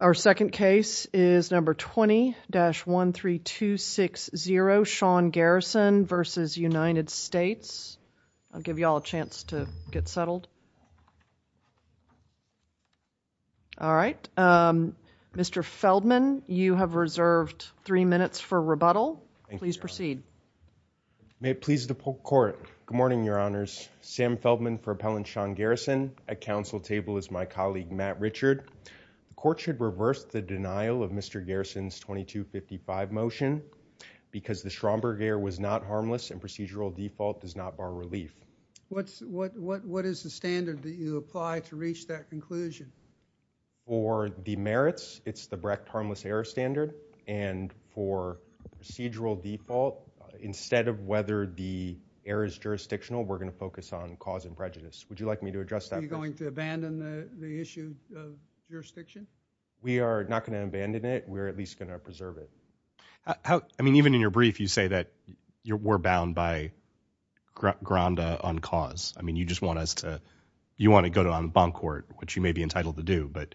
Our second case is number 20-13260, Sean Garrison v. United States, I'll give you all a chance to get settled. All right, Mr. Feldman, you have reserved three minutes for rebuttal. Please proceed. May it please the court. Good morning, Your Honors. Sam Feldman for Appellant Sean Garrison. At counsel table is my colleague Matt Richard. The court should reverse the denial of Mr. Garrison's 2255 motion because the Stromberg error was not harmless and procedural default does not bar relief. What is the standard that you apply to reach that conclusion? For the merits, it's the Brecht harmless error standard and for procedural default, instead of whether the error is jurisdictional, we're going to focus on cause and prejudice. Would you like me to address that? Are you going to abandon the issue of jurisdiction? We are not going to abandon it. We're at least going to preserve it. I mean, even in your brief, you say that you were bound by Granda on cause. I mean, you just want us to, you want to go to en banc court, which you may be entitled to do, but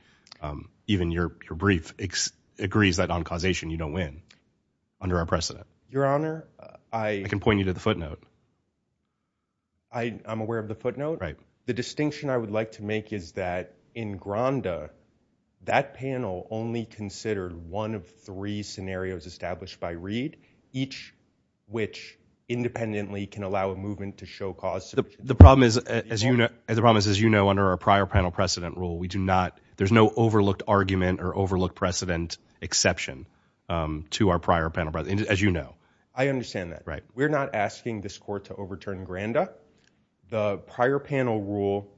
even your brief agrees that on causation you don't win under our precedent. Your Honor, I can point you to the footnote. I'm aware of the footnote. Right. The distinction I would like to make is that in Granda, that panel only considered one of three scenarios established by Reed, each which independently can allow a movement to show cause. The problem is, as you know, under our prior panel precedent rule, we do not, there's no overlooked argument or overlooked precedent exception to our prior panel precedent, as you know. I understand that. Right. We're not asking this court to overturn Granda. The prior panel rule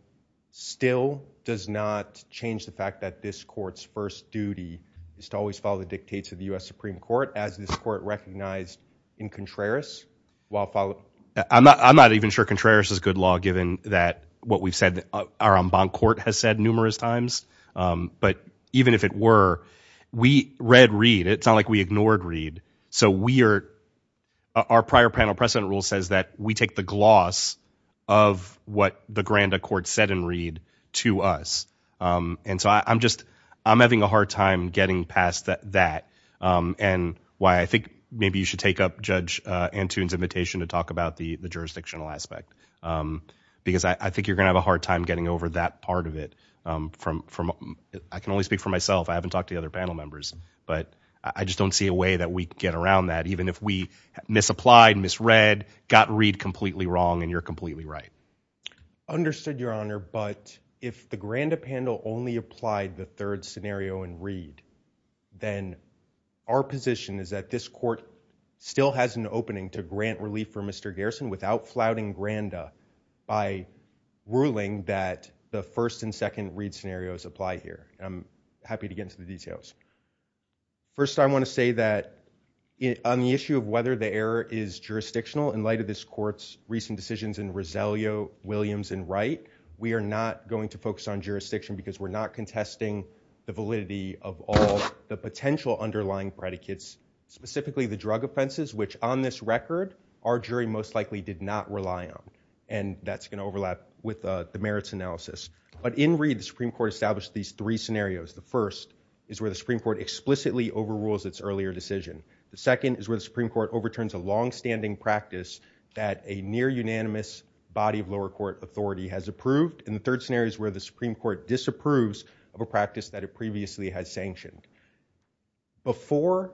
still does not change the fact that this court's first duty is to always follow the dictates of the U.S. Supreme Court, as this court recognized in Contreras. I'm not even sure Contreras is good law, given that what we've said, our en banc court has said numerous times, but even if it were, we read Reed. It's not like we ignored Reed. So we are, our prior panel precedent rule says that we take the gloss of what the Granda court said in Reed to us, and so I'm just, I'm having a hard time getting past that, and why I think maybe you should take up Judge Antoon's invitation to talk about the jurisdictional aspect, because I think you're gonna have a hard time getting over that part of it from, from, I can only speak for myself, I haven't talked to the other panel members, but I just don't see a way that we can get around that, even if we misapplied, misread, got Reed completely wrong, and you're completely right. Understood, Your Honor, but if the Granda panel only applied the third scenario in Reed, then our position is that this court still has an opening to grant relief for Mr. Garrison without flouting Granda by ruling that the first and second Reed scenarios apply here, and I'm happy to get into the details. First, I want to say that on the issue of whether the error is jurisdictional, in light of this court's recent decisions in Roselio, Williams, and Wright, we are not going to focus on jurisdiction because we're not contesting the validity of all the potential underlying predicates, specifically the drug offenses, which on this record, our jury most likely did not rely on. And that's gonna overlap with the merits analysis. But in Reed, the Supreme Court established these three scenarios. The first is where the Supreme Court explicitly overrules its earlier decision. The second is where the Supreme Court overturns a longstanding practice that a near unanimous body of lower court authority has approved. And the third scenario is where the Supreme Court disapproves of a practice that it previously had sanctioned. Before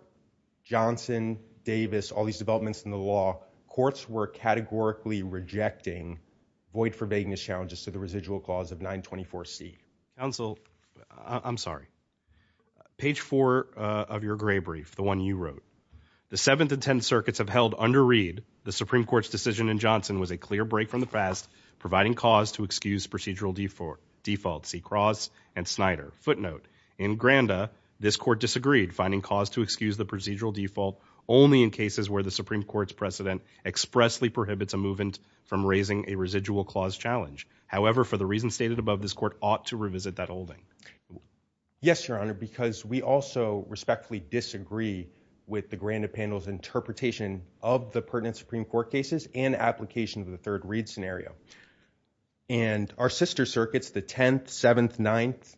Johnson, Davis, all these developments in the law, courts were categorically rejecting void for vagueness challenges to the residual clause of 924C. Counsel, I'm sorry. Page four of your gray brief, the one you wrote. The 7th and 10th circuits have held under Reed, the Supreme Court's decision in Johnson was a clear break from the past, providing cause to excuse procedural defaults, C. Cross and Snyder. Footnote, in Granda, this court disagreed, finding cause to excuse the procedural default only in cases where the Supreme Court's precedent expressly prohibits a movement from raising a residual clause challenge. However, for the reasons stated above, this court ought to revisit that holding. Yes, Your Honor, because we also respectfully disagree with the Granda panel's interpretation of the pertinent Supreme Court cases and application of the third Reed scenario. And our sister circuits, the 10th, 7th, 9th,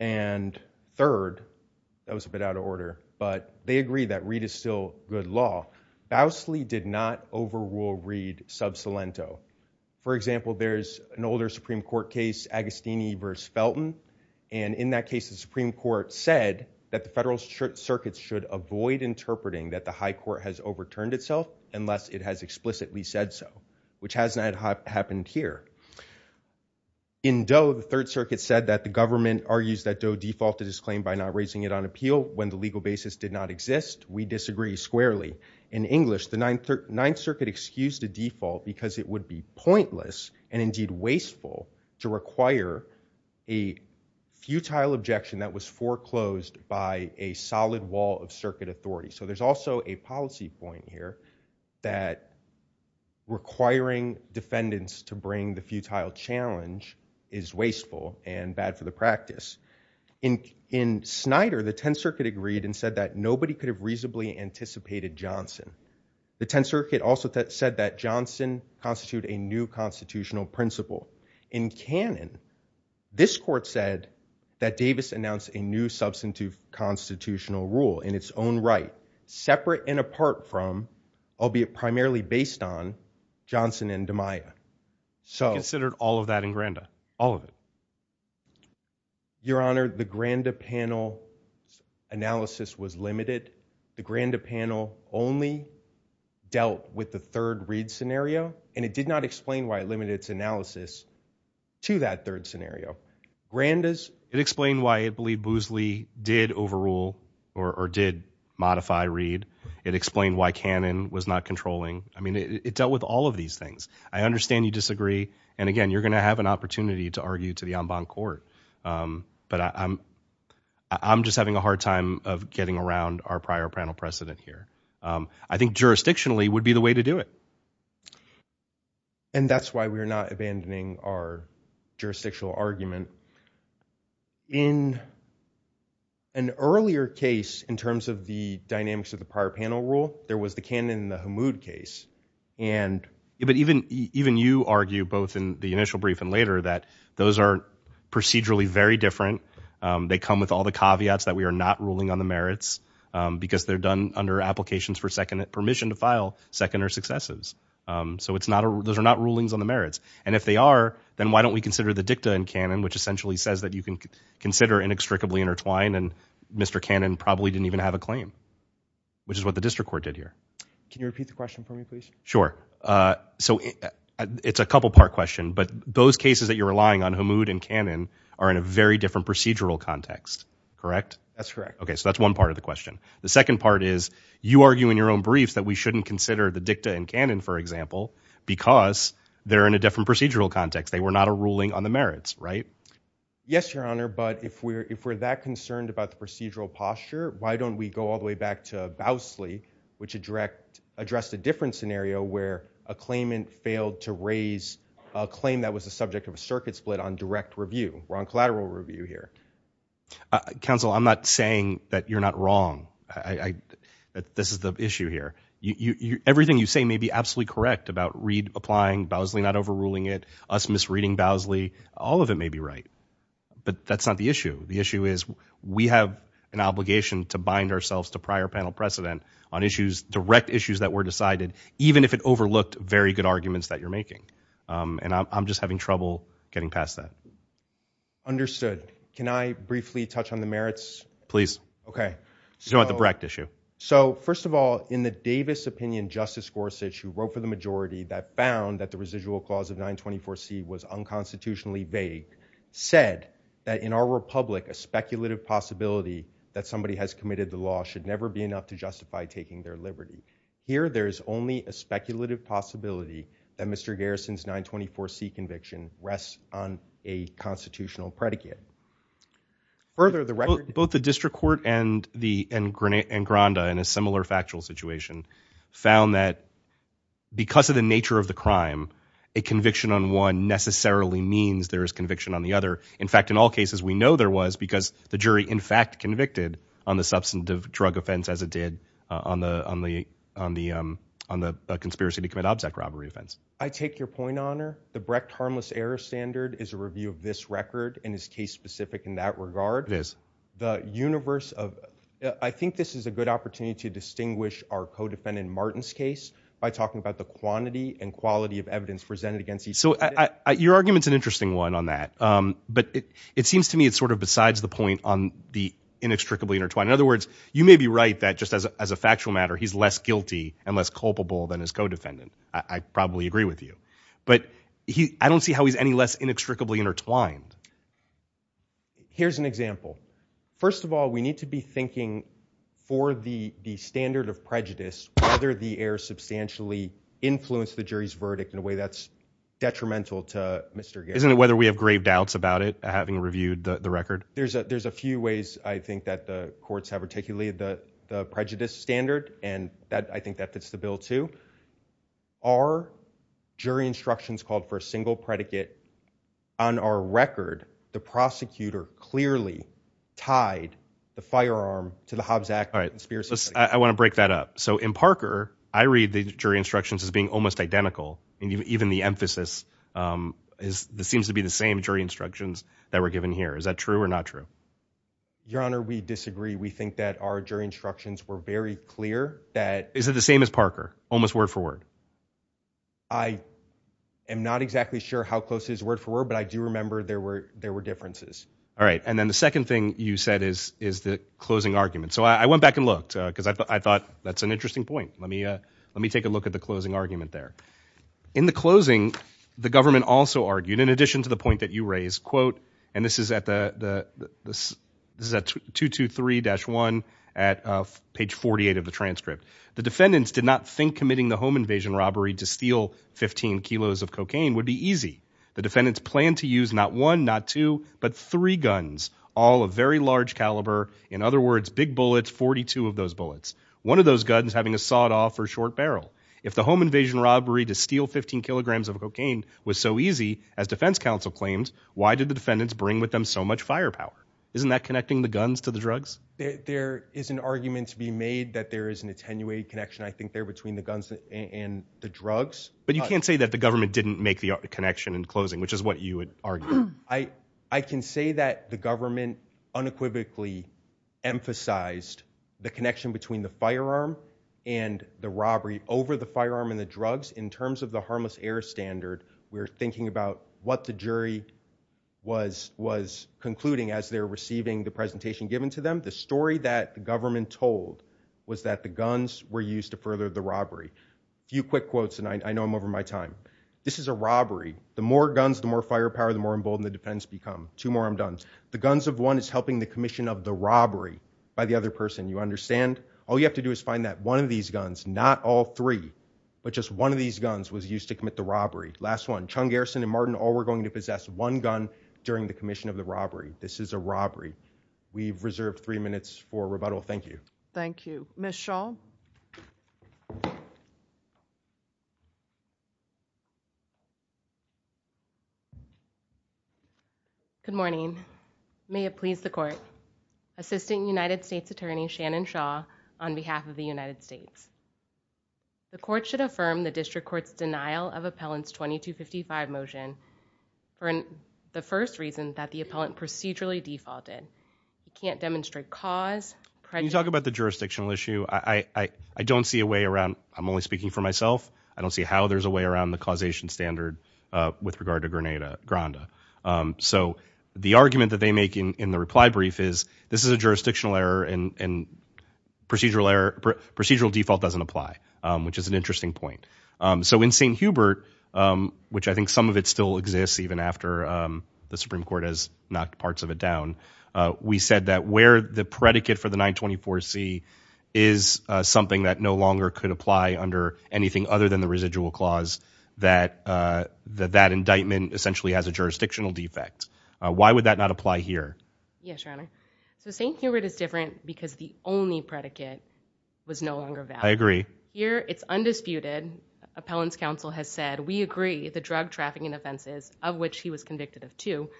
and 3rd, that was a bit out of order, but they agree that Reed is still good law. Bousley did not overrule Reed sub salento. For example, there's an older Supreme Court case, Agostini versus Felton. And in that case, the Supreme Court said that the federal circuits should avoid interpreting that the high court has overturned itself unless it has explicitly said so, which has not happened here. In Doe, the third circuit said that the government argues that Doe defaulted his claim by not raising it on appeal when the legal basis did not exist. We disagree squarely. In English, the 9th circuit excused a default because it would be pointless and indeed wasteful to require a futile objection that was foreclosed by a solid wall of circuit authority. So there's also a policy point here that requiring defendants to bring the futile challenge is wasteful and bad for the practice. In Snyder, the 10th circuit agreed and nobody could have reasonably anticipated Johnson. The 10th circuit also said that Johnson constitute a new constitutional principle. In canon, this court said that Davis announced a new substantive constitutional rule in its own right, separate and apart from, albeit primarily based on, Johnson and DeMaia. So- Considered all of that in Granda, all of it. Your Honor, the Granda panel analysis was limited. The Granda panel only dealt with the third Reed scenario, and it did not explain why it limited its analysis to that third scenario. Granda's- It explained why it believed Boosley did overrule or did modify Reed. It explained why Cannon was not controlling. I mean, it dealt with all of these things. I understand you disagree. And again, you're going to have an opportunity to argue to the en banc court. But I'm just having a hard time of getting around our prior panel precedent here. I think jurisdictionally would be the way to do it. And that's why we're not abandoning our jurisdictional argument. In an earlier case, in terms of the dynamics of the prior panel rule, there was the Cannon and the Hamoud case. And even you argue, both in the initial brief and later, that those are procedurally very different. They come with all the caveats that we are not ruling on the merits because they're done under applications for permission to file seconder successes. So those are not rulings on the merits. And if they are, then why don't we consider the dicta in Cannon, which essentially says that you can consider inextricably intertwined, and Mr. Cannon probably didn't even have a claim, which is what the district court did here. Can you repeat the question for me, please? Sure, so it's a couple part question, but those cases that you're relying on Hamoud and Cannon are in a very different procedural context, correct? That's correct. Okay, so that's one part of the question. The second part is, you argue in your own briefs that we shouldn't consider the dicta in Cannon, for example, because they're in a different procedural context. They were not a ruling on the merits, right? Yes, Your Honor, but if we're that concerned about the procedural posture, why don't we go all the way back to Bousley, which addressed a different scenario where a claimant failed to raise a claim that was a subject of a circuit split on direct review. We're on collateral review here. Counsel, I'm not saying that you're not wrong. This is the issue here. Everything you say may be absolutely correct about Reid applying, Bousley not overruling it, us misreading Bousley. All of it may be right, but that's not the issue. The issue is we have an obligation to bind ourselves to prior panel precedent. Direct issues that were decided, even if it overlooked very good arguments that you're making. And I'm just having trouble getting past that. Understood. Can I briefly touch on the merits? Please. Okay. You don't have the correct issue. So first of all, in the Davis opinion, Justice Gorsuch, who wrote for the majority that found that the residual clause of 924C was unconstitutionally vague, said that in our republic, a speculative possibility that somebody has by taking their liberty. Here, there's only a speculative possibility that Mr. Garrison's 924C conviction rests on a constitutional predicate. Further, the record- Both the district court and Granada in a similar factual situation found that because of the nature of the crime, a conviction on one necessarily means there is conviction on the other. In fact, in all cases, we know there was because the jury in fact convicted on the substantive drug offense as it did on the conspiracy to commit object robbery offense. I take your point, Honor. The Brecht Harmless Error Standard is a review of this record and is case specific in that regard. It is. The universe of, I think this is a good opportunity to distinguish our co-defendant Martin's case by talking about the quantity and quality of evidence presented against each defendant. Your argument's an interesting one on that, but it seems to me it's sort of besides the point on the inextricably intertwined. In other words, you may be right that just as a factual matter, he's less guilty and less culpable than his co-defendant. I probably agree with you. But I don't see how he's any less inextricably intertwined. Here's an example. First of all, we need to be thinking for the standard of prejudice, whether the error substantially influenced the jury's verdict in a way that's detrimental to Mr. Garrison. Isn't it whether we have grave doubts about it, having reviewed the record? There's a few ways I think that the courts have articulated the prejudice standard, and I think that fits the bill too. Our jury instructions called for a single predicate. On our record, the prosecutor clearly tied the firearm to the Hobbs Act. All right, I want to break that up. So in Parker, I read the jury instructions as being almost identical. Even the emphasis seems to be the same jury instructions that were given here. Is that true or not true? Your Honor, we disagree. We think that our jury instructions were very clear that- Is it the same as Parker, almost word for word? I am not exactly sure how close it is word for word, but I do remember there were differences. All right, and then the second thing you said is the closing argument. So I went back and looked, because I thought that's an interesting point. Let me take a look at the closing argument there. In the closing, the government also argued, in addition to the point that you raised, quote, and this is at 223-1 at page 48 of the transcript, the defendants did not think committing the home invasion robbery to steal 15 kilos of cocaine would be easy. The defendants planned to use not one, not two, but three guns, all of very large caliber, in other words, big bullets, 42 of those bullets. One of those guns having a sawed off or short barrel. If the home invasion robbery to steal 15 kilograms of cocaine was so easy, as defense counsel claimed, why did the defendants bring with them so much firepower? Isn't that connecting the guns to the drugs? There is an argument to be made that there is an attenuated connection, I think, there between the guns and the drugs. But you can't say that the government didn't make the connection in closing, which is what you would argue. I can say that the government unequivocally emphasized the connection between the firearm and the robbery over the firearm and the drugs in terms of the harmless air standard. We're thinking about what the jury was concluding as they're receiving the presentation given to them. The story that the government told was that the guns were used to further the robbery. Few quick quotes, and I know I'm over my time. This is a robbery. The more guns, the more firepower, the more emboldened the defendants become. Two more, I'm done. The guns of one is helping the commission of the robbery by the other person. You understand? All you have to do is find that one of these guns, not all three, but just one of these guns was used to commit the robbery. Last one, Chung, Garrison, and Martin, all were going to possess one gun during the commission of the robbery. This is a robbery. We've reserved three minutes for rebuttal. Thank you. Thank you. Ms. Schall? Good morning. May it please the court. Assistant United States Attorney Shannon Shaw on behalf of the United States. The court should affirm the district court's denial of appellant's 2255 motion for the first reason that the appellant procedurally defaulted. We can't demonstrate cause, prejudice- Can you talk about the jurisdictional issue? I don't see a way around, I'm only speaking for myself, I don't see how there's a way around the causation standard with regard to Granada. So the argument that they make in the reply brief is, this is a jurisdictional error and procedural default doesn't apply, which is an interesting point. So in St. Hubert, which I think some of it still exists even after the Supreme Court has knocked parts of it down, we said that where the predicate for the 924C is something that no longer could apply under anything other than the residual clause, that that indictment essentially has a jurisdictional defect. Why would that not apply here? Yes, your honor. So St. Hubert is different because the only predicate was no longer valid. I agree. Here, it's undisputed. Appellant's counsel has said, we agree the drug trafficking offenses, of which he was convicted of two,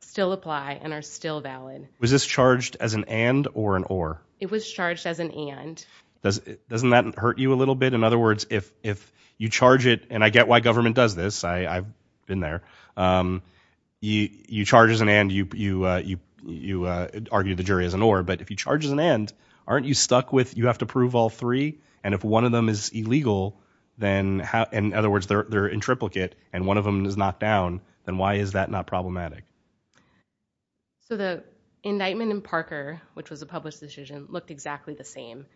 still apply and are still valid. Was this charged as an and or an or? It was charged as an and. Doesn't that hurt you a little bit? In other words, if you charge it, and I get why government does this, I've been there, you charge as an and, you argue the jury as an or. But if you charge as an and, aren't you stuck with you have to prove all three? And if one of them is illegal, then in other words, they're in triplicate and one of them is knocked down, then why is that not problematic? So the indictment in Parker, which was a published decision, looked exactly the same.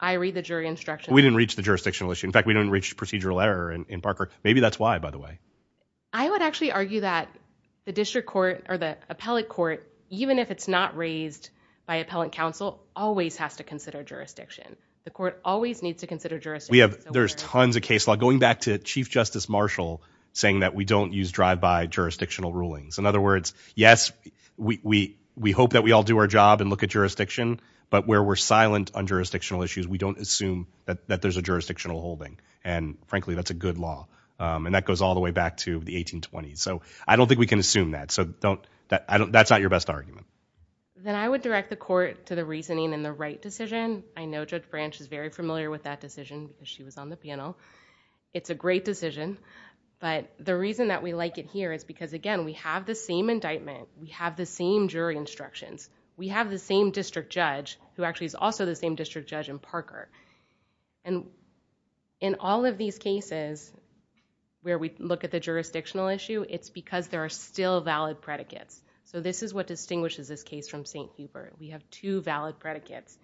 I read the jury instructions. We didn't reach the jurisdictional issue. In fact, we didn't reach procedural error in Parker. Maybe that's why, by the way. I would actually argue that the district court or the appellate court, even if it's not raised by appellant counsel, always has to consider jurisdiction. The court always needs to consider jurisdiction. We have, there's tons of case law, going back to Chief Justice Marshall, saying that we don't use drive-by jurisdictional rulings. In other words, yes, we hope that we all do our job and look at jurisdiction. But where we're silent on jurisdictional issues, we don't assume that there's a jurisdictional holding. And frankly, that's a good law. And that goes all the way back to the 1820s. So I don't think we can assume that. So don't, that's not your best argument. Then I would direct the court to the reasoning and the right decision. I know Judge Branch is very familiar with that decision. She was on the panel. It's a great decision. But the reason that we like it here is because, again, we have the same indictment. We have the same jury instructions. We have the same district judge, who actually is also the same district judge in Parker. And in all of these cases, where we look at the jurisdictional issue, it's because there are still valid predicates. So this is what distinguishes this case from St. Hubert. We have two valid predicates.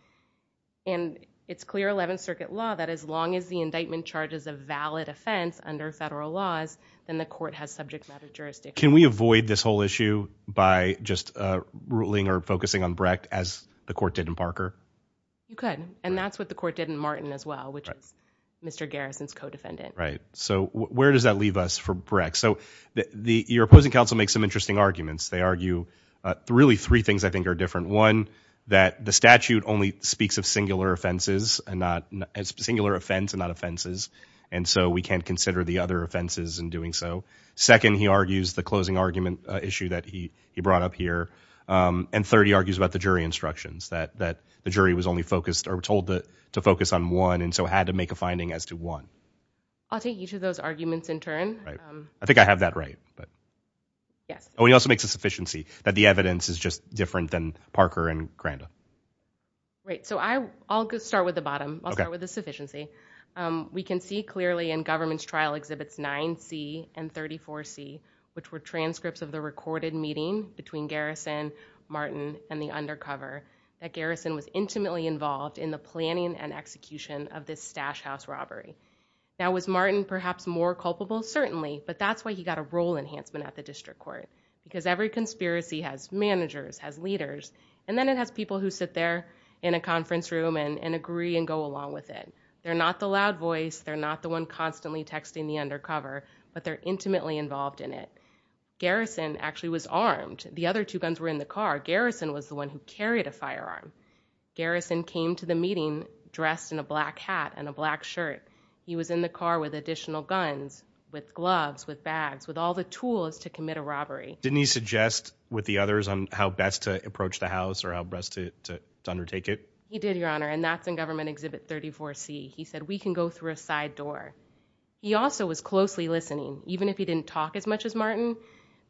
And it's clear 11th Circuit law that as long as the indictment charges a valid offense under federal laws, then the court has subject matter jurisdiction. Can we avoid this whole issue by just ruling or focusing on Brecht as the court did in Parker? You could. And that's what the court did in Martin as well, which is Mr. Garrison's co-defendant. Right. So where does that leave us for Brecht? So your opposing counsel makes some interesting arguments. They argue really three things I think are different. One, that the statute only speaks of singular offenses and not, and so we can't consider the other offenses in doing so. Second, he argues the closing argument issue that he brought up here. And third, he argues about the jury instructions, that the jury was only told to focus on one and so had to make a finding as to one. I'll take each of those arguments in turn. I think I have that right. Yes. He also makes a sufficiency that the evidence is just different than Parker and Granda. Right. So I'll start with the bottom. I'll start with the sufficiency. We can see clearly in government's trial exhibits 9C and 34C, which were transcripts of the recorded meeting between Garrison, Martin, and the undercover, that Garrison was intimately involved in the planning and execution of this stash house robbery. Now was Martin perhaps more culpable? Certainly. But that's why he got a role enhancement at the district court. Because every conspiracy has managers, has leaders, and then it has people who sit there in a conference room and agree and go along with it. They're not the loud voice. They're not the one constantly texting the undercover. But they're intimately involved in it. Garrison actually was armed. The other two guns were in the car. Garrison was the one who carried a firearm. Garrison came to the meeting dressed in a black hat and a black shirt. He was in the car with additional guns, with gloves, with bags, with all the tools to commit a robbery. Didn't he suggest with the others on how best to approach the house or how best to undertake it? He did, Your Honor, and that's in Government Exhibit 34C. He said, we can go through a side door. He also was closely listening. Even if he didn't talk as much as Martin,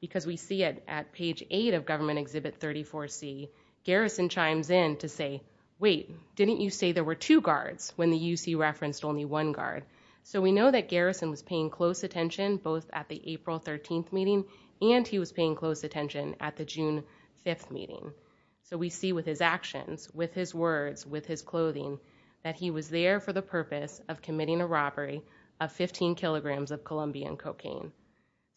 because we see it at page eight of Government Exhibit 34C, Garrison chimes in to say, wait, didn't you say there were two guards when the UC referenced only one guard? So we know that Garrison was paying close attention, both at the April 13th meeting and he was paying close attention at the June 5th meeting. So we see with his actions, with his words, with his clothing, that he was there for the purpose of committing a robbery of 15 kilograms of Colombian cocaine.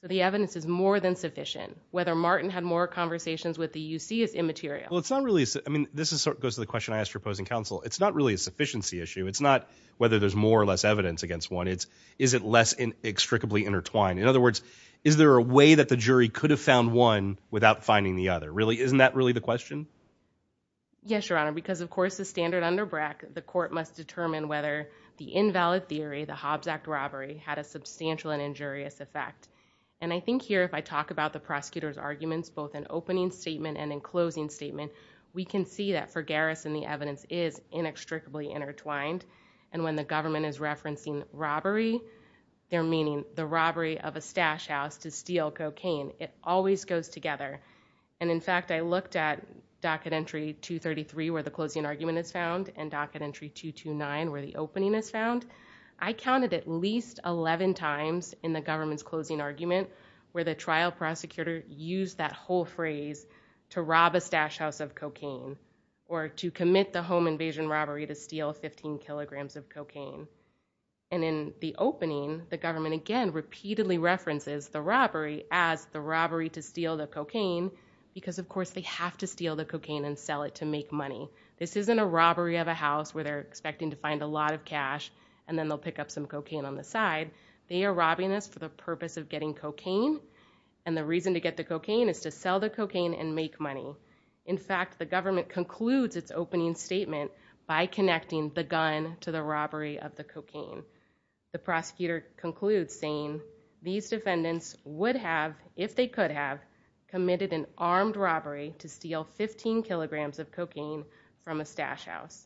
The evidence is more than sufficient. Whether Martin had more conversations with the UC is immaterial. Well, it's not really, I mean, this goes to the question I asked your opposing counsel, it's not really a sufficiency issue. It's not whether there's more or less evidence against one. It's, is it less inextricably intertwined? In other words, is there a way that the jury could have found one without finding the other? Isn't that really the question? Yes, Your Honor, because of course, the standard under BRAC, the court must determine whether the invalid theory, the Hobbs Act robbery, had a substantial and injurious effect. And I think here, if I talk about the prosecutor's arguments, both in opening statement and in closing statement, we can see that for Garrison, the evidence is inextricably intertwined. And when the government is referencing robbery, they're meaning the robbery of a stash house to steal cocaine. It always goes together. And in fact, I looked at docket entry 233 where the closing argument is found and docket entry 229 where the opening is found. I counted at least 11 times in the government's closing argument where the trial prosecutor used that whole phrase to rob a stash house of cocaine. Or to commit the home invasion robbery to steal 15 kilograms of cocaine. And in the opening, the government again repeatedly references the robbery as the robbery to steal the cocaine. Because of course, they have to steal the cocaine and sell it to make money. This isn't a robbery of a house where they're expecting to find a lot of cash. And then they'll pick up some cocaine on the side. They are robbing us for the purpose of getting cocaine. And the reason to get the cocaine is to sell the cocaine and make money. In fact, the government concludes its opening statement by connecting the gun to the robbery of the cocaine. The prosecutor concludes saying, these defendants would have, if they could have, committed an armed robbery to steal 15 kilograms of cocaine from a stash house.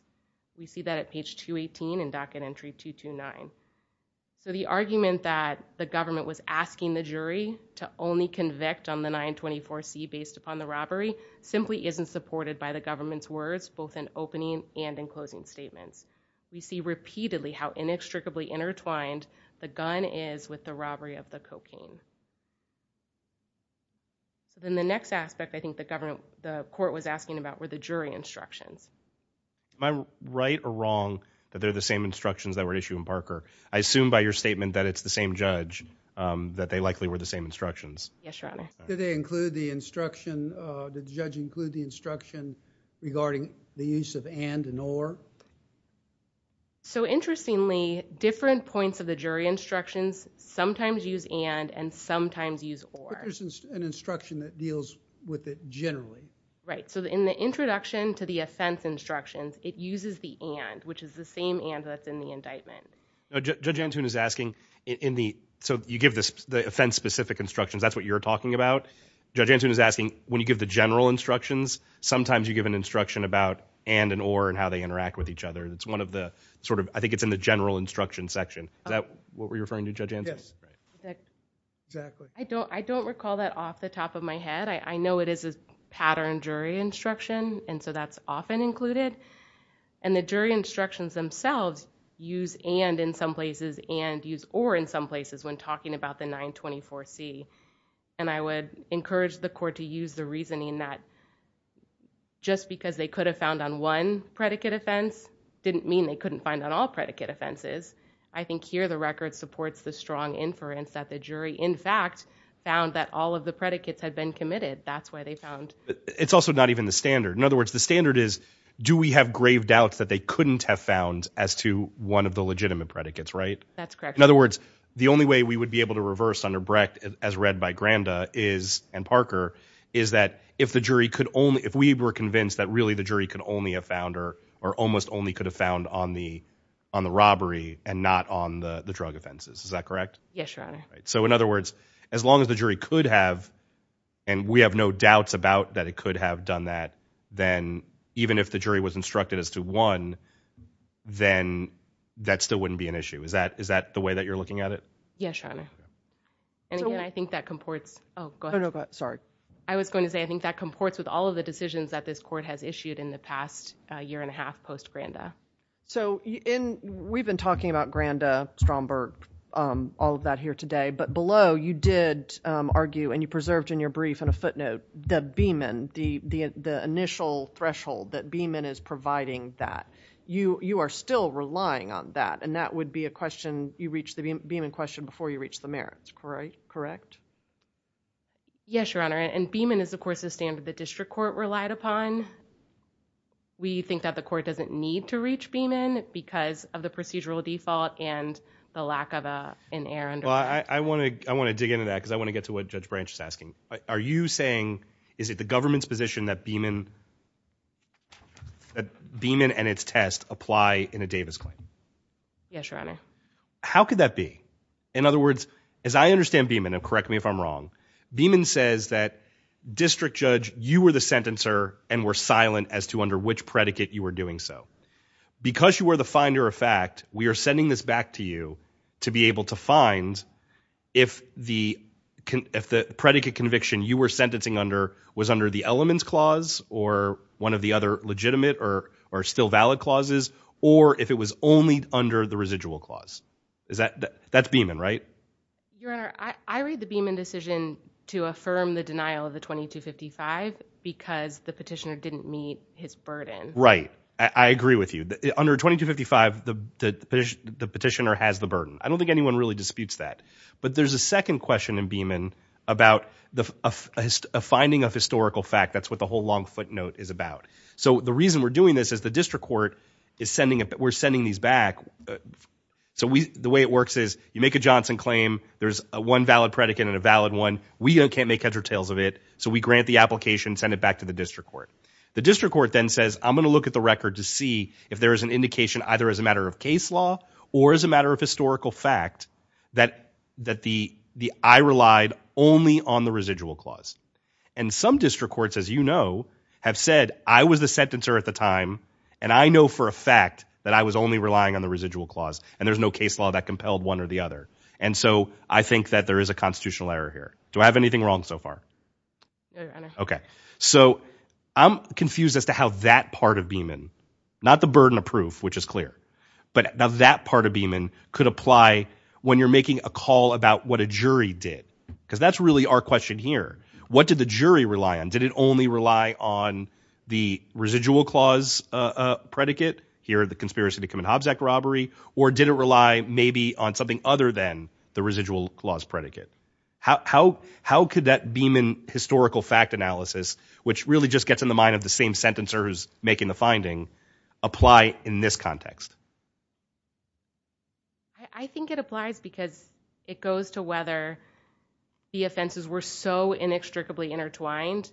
We see that at page 218 in docket entry 229. So the argument that the government was asking the jury to only convict on the 924C based upon the robbery simply isn't supported by the government's words, both in opening and in closing statements. We see repeatedly how inextricably intertwined the gun is with the robbery of the cocaine. Then the next aspect I think the court was asking about were the jury instructions. Am I right or wrong that they're the same instructions that were issued in Parker? I assume by your statement that it's the same judge that they likely were the same instructions. Yes, your honor. Did they include the instruction, did the judge So interestingly, different points of the jury instructions sometimes use and and sometimes use or. There's an instruction that deals with it generally. Right, so in the introduction to the offense instructions, it uses the and, which is the same and that's in the indictment. Judge Antoon is asking, so you give the offense specific instructions, that's what you're talking about. Judge Antoon is asking, when you give the general instructions, sometimes you give an instruction about and and or and how they interact with each other. That's one of the sort of, I think it's in the general instruction section. Is that what you're referring to, Judge Antoon? Yes, exactly. I don't recall that off the top of my head. I know it is a pattern jury instruction, and so that's often included. And the jury instructions themselves use and in some places and use or in some places when talking about the 924C. And I would encourage the court to use the reasoning that just because they could have found on one predicate offense, didn't mean they couldn't find on all predicate offenses. I think here the record supports the strong inference that the jury, in fact, found that all of the predicates had been committed. That's why they found. It's also not even the standard. In other words, the standard is, do we have grave doubts that they couldn't have found as to one of the legitimate predicates, right? That's correct. In other words, the only way we would be able to reverse under Brecht, as read by Granda is, and Parker, is that if the jury could only, if we were convinced that really the jury could only have found or almost only could have found on the robbery and not on the drug offenses. Is that correct? Yes, your honor. So in other words, as long as the jury could have, and we have no doubts about that it could have done that, then even if the jury was instructed as to one, then that still wouldn't be an issue. Is that the way that you're looking at it? Yes, your honor. No, no, go ahead, sorry. I was going to say, I think that comports with all of the decisions that this court has issued in the past year and a half post-Granda. So, we've been talking about Granda, Stromberg, all of that here today. But below, you did argue, and you preserved in your brief in a footnote, the Beeman, the initial threshold that Beeman is providing that. You are still relying on that, and that would be a question, you reach the Beeman question before you reach the merits. Correct? Yes, your honor, and Beeman is of course a standard the district court relied upon. We think that the court doesn't need to reach Beeman because of the procedural default and the lack of an heir under that. I want to dig into that because I want to get to what Judge Branch is asking. Are you saying, is it the government's position that Beeman and its test apply in a Davis claim? Yes, your honor. How could that be? In other words, as I understand Beeman, and correct me if I'm wrong, Beeman says that district judge, you were the sentencer and were silent as to under which predicate you were doing so. Because you were the finder of fact, we are sending this back to you to be able to find if the predicate conviction you were sentencing under was under the elements clause or one of the other legitimate or still valid clauses. Or if it was only under the residual clause. Is that, that's Beeman, right? Your honor, I read the Beeman decision to affirm the denial of the 2255 because the petitioner didn't meet his burden. Right, I agree with you. Under 2255, the petitioner has the burden. I don't think anyone really disputes that. But there's a second question in Beeman about a finding of historical fact. That's what the whole long footnote is about. So the reason we're doing this is the district court is sending, we're sending these back. So the way it works is, you make a Johnson claim. There's one valid predicate and a valid one. We can't make head or tails of it. So we grant the application, send it back to the district court. The district court then says, I'm gonna look at the record to see if there is an indication either as a matter of case law or as a matter of historical fact that I relied only on the residual clause. And some district courts, as you know, have said, I was the sentencer at the time. And I know for a fact that I was only relying on the residual clause, and there's no case law that compelled one or the other. And so I think that there is a constitutional error here. Do I have anything wrong so far? Okay, so I'm confused as to how that part of Beeman, not the burden of proof, which is clear. But now that part of Beeman could apply when you're making a call about what a jury did, cuz that's really our question here. What did the jury rely on? Did it only rely on the residual clause predicate, here the conspiracy to commit Hobbs Act robbery, or did it rely maybe on something other than the residual clause predicate? How could that Beeman historical fact analysis, which really just gets in the mind of the same sentencer who's making the finding, apply in this context? I think it applies because it goes to whether the offenses were so inextricably intertwined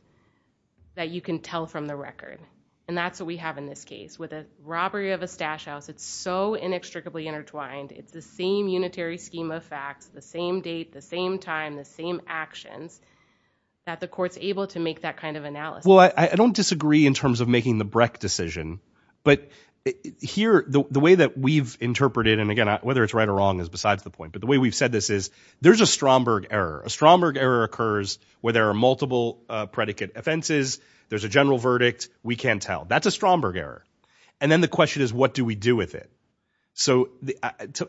that you can tell from the record. And that's what we have in this case. With a robbery of a stash house, it's so inextricably intertwined. It's the same unitary scheme of facts, the same date, the same time, the same actions, that the court's able to make that kind of analysis. Well, I don't disagree in terms of making the Breck decision. But here, the way that we've interpreted, and again, whether it's right or wrong is besides the point. But the way we've said this is, there's a Stromberg error. A Stromberg error occurs where there are multiple predicate offenses, there's a general verdict, we can't tell. That's a Stromberg error. And then the question is, what do we do with it? So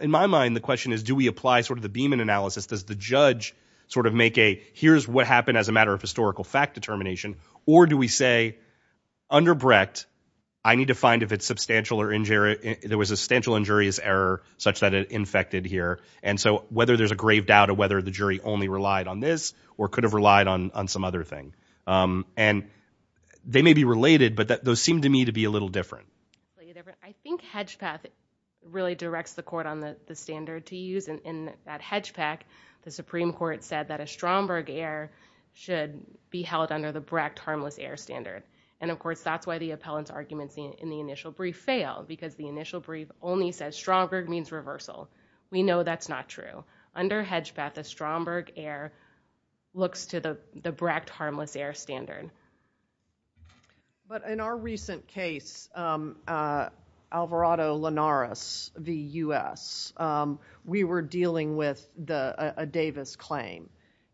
in my mind, the question is, do we apply sort of the Beeman analysis? Does the judge sort of make a, here's what happened as a matter of historical fact determination? Or do we say, under Brecht, I need to find if it's substantial or injurious, there was a substantial injurious error such that it infected here. And so, whether there's a grave doubt of whether the jury only relied on this, or could have relied on some other thing. And they may be related, but those seem to me to be a little different. I think HedgePath really directs the court on the standard to use. And in that HedgePath, the Supreme Court said that a Stromberg error should be held under the Brecht harmless error standard. And of course, that's why the appellant's arguments in the initial brief failed, because the initial brief only says Stromberg means reversal. We know that's not true. Under HedgePath, the Stromberg error looks to the Brecht harmless error standard. But in our recent case, Alvarado-Linares v. U.S., we were dealing with a Davis claim.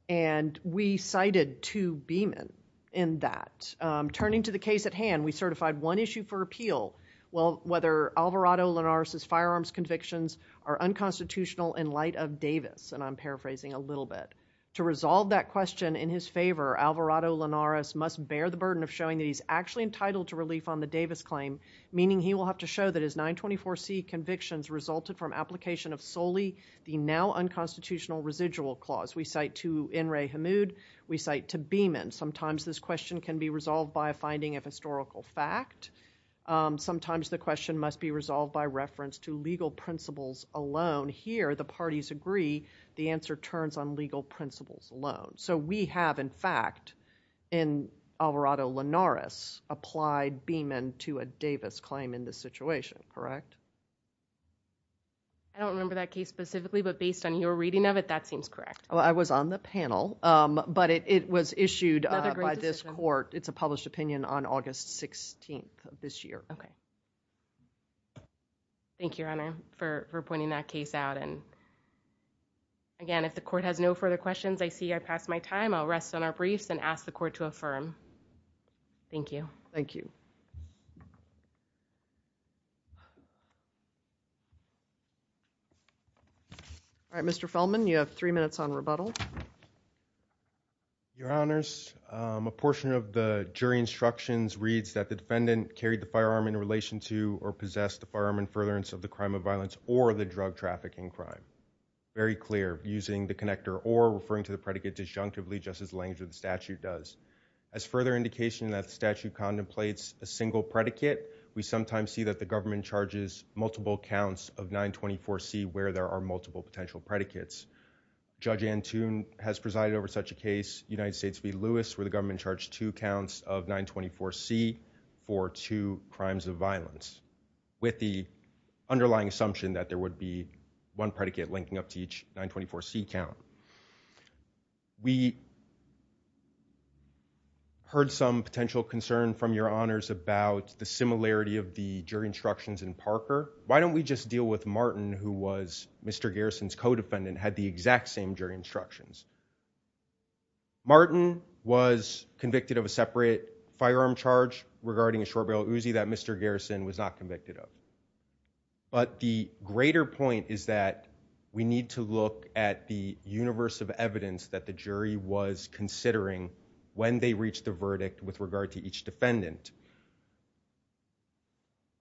And we cited two Beeman in that. Turning to the case at hand, we certified one issue for appeal. Well, whether Alvarado-Linares' firearms convictions are unconstitutional in light of Davis, and I'm paraphrasing a little bit. To resolve that question in his favor, Alvarado-Linares must bear the burden of showing that he's actually entitled to relief on the Davis claim. Meaning, he will have to show that his 924C convictions resulted from application of solely the now unconstitutional residual clause. We cite to Inrei Hamoud, we cite to Beeman. Sometimes this question can be resolved by a finding of historical fact. Sometimes the question must be resolved by reference to legal principles alone. Here, the parties agree, the answer turns on legal principles alone. So we have, in fact, in Alvarado-Linares, applied Beeman to a Davis claim in this situation, correct? I don't remember that case specifically, but based on your reading of it, that seems correct. Well, I was on the panel, but it was issued by this court. It's a published opinion on August 16th of this year. Okay. Thank you, Your Honor, for pointing that case out. And again, if the court has no further questions, I see I've passed my time. I'll rest on our briefs and ask the court to affirm. Thank you. Thank you. All right, Mr. Feldman, you have three minutes on rebuttal. Your Honors, a portion of the jury instructions reads that the defendant carried the firearm in relation to or possessed the firearm in furtherance of the crime of violence or the drug trafficking crime. Very clear, using the connector or referring to the predicate disjunctively just as language of the statute does. As further indication that the statute contemplates a single predicate, we sometimes see that the government charges multiple counts of 924C where there are multiple potential predicates. Judge Antoon has presided over such a case. United States v. Lewis, where the government charged two counts of 924C for two crimes of violence, with the underlying assumption that there would be one predicate linking up to each 924C count. We heard some potential concern from your honors about the similarity of the jury instructions in Parker. Why don't we just deal with Martin, who was Mr. Garrison, who had the exact same jury instructions. Martin was convicted of a separate firearm charge regarding a short-barrel Uzi that Mr. Garrison was not convicted of. But the greater point is that we need to look at the universe of evidence that the jury was considering when they reached the verdict with regard to each defendant.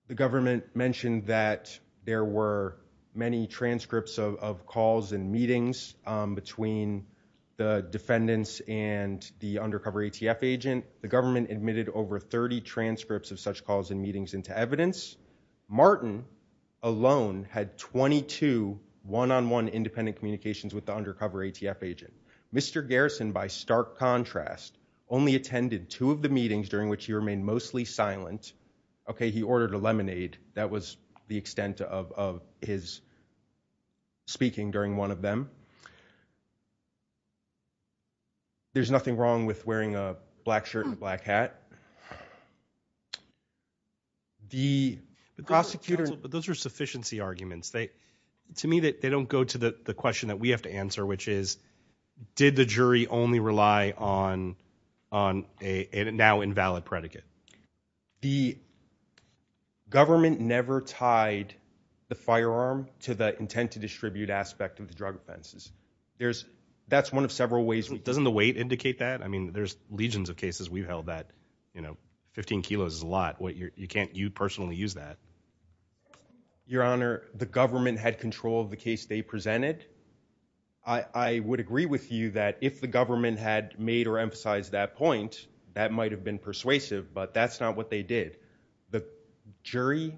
The government mentioned that there were many transcripts of calls and meetings between the defendants and the undercover ATF agent. The government admitted over 30 transcripts of such calls and meetings into evidence. Martin alone had 22 one-on-one independent communications with the undercover ATF agent. Mr. Garrison, by stark contrast, only attended two of the meetings during which he remained mostly silent. Okay, he ordered a lemonade. That was the extent of his speaking during one of them. There's nothing wrong with wearing a black shirt and a black hat. The prosecutor- But those are sufficiency arguments. To me, they don't go to the question that we have to answer, which is, did the jury only rely on a now invalid predicate? The government never tied the firearm to the intent to distribute aspect of the drug offenses. That's one of several ways. Doesn't the weight indicate that? I mean, there's legions of cases we've held that 15 kilos is a lot. You can't, you'd personally use that. Your Honor, the government had control of the case they presented. I would agree with you that if the government had made or emphasized that point, that might have been persuasive, but that's not what they did. The jury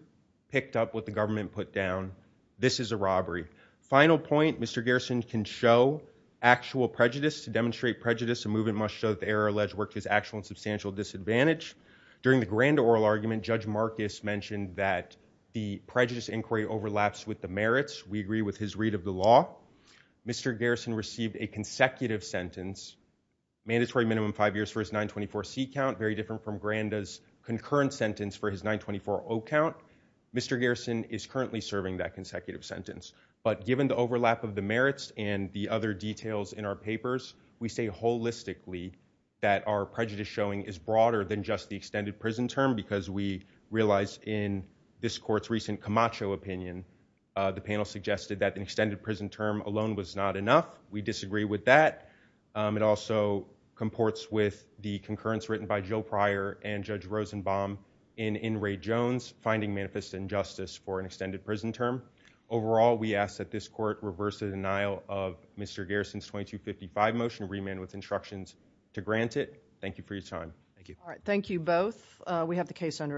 picked up what the government put down. This is a robbery. Final point, Mr. Garrison can show actual prejudice to demonstrate prejudice. A movement must show that the error alleged worked as actual and substantial disadvantage. During the Granda oral argument, Judge Marcus mentioned that the prejudice inquiry overlaps with the merits. We agree with his read of the law. Mr. Garrison received a consecutive sentence, mandatory minimum five years for his 924C count, very different from Granda's concurrent sentence for his 924O count. Mr. Garrison is currently serving that consecutive sentence. But given the overlap of the merits and the other details in our papers, we say holistically that our prejudice showing is broader than just the extended prison term because we realize in this court's recent Camacho opinion, the panel suggested that an extended prison term alone was not enough. We disagree with that. It also comports with the concurrence written by Joe Pryor and Judge Rosenbaum in In Ray Jones, finding manifest injustice for an extended prison term. Overall, we ask that this court reverse the denial of Mr. Garrison's 2255 motion remand with instructions to grant it. Thank you for your time. Thank you. Thank you both. We have the case under advisement.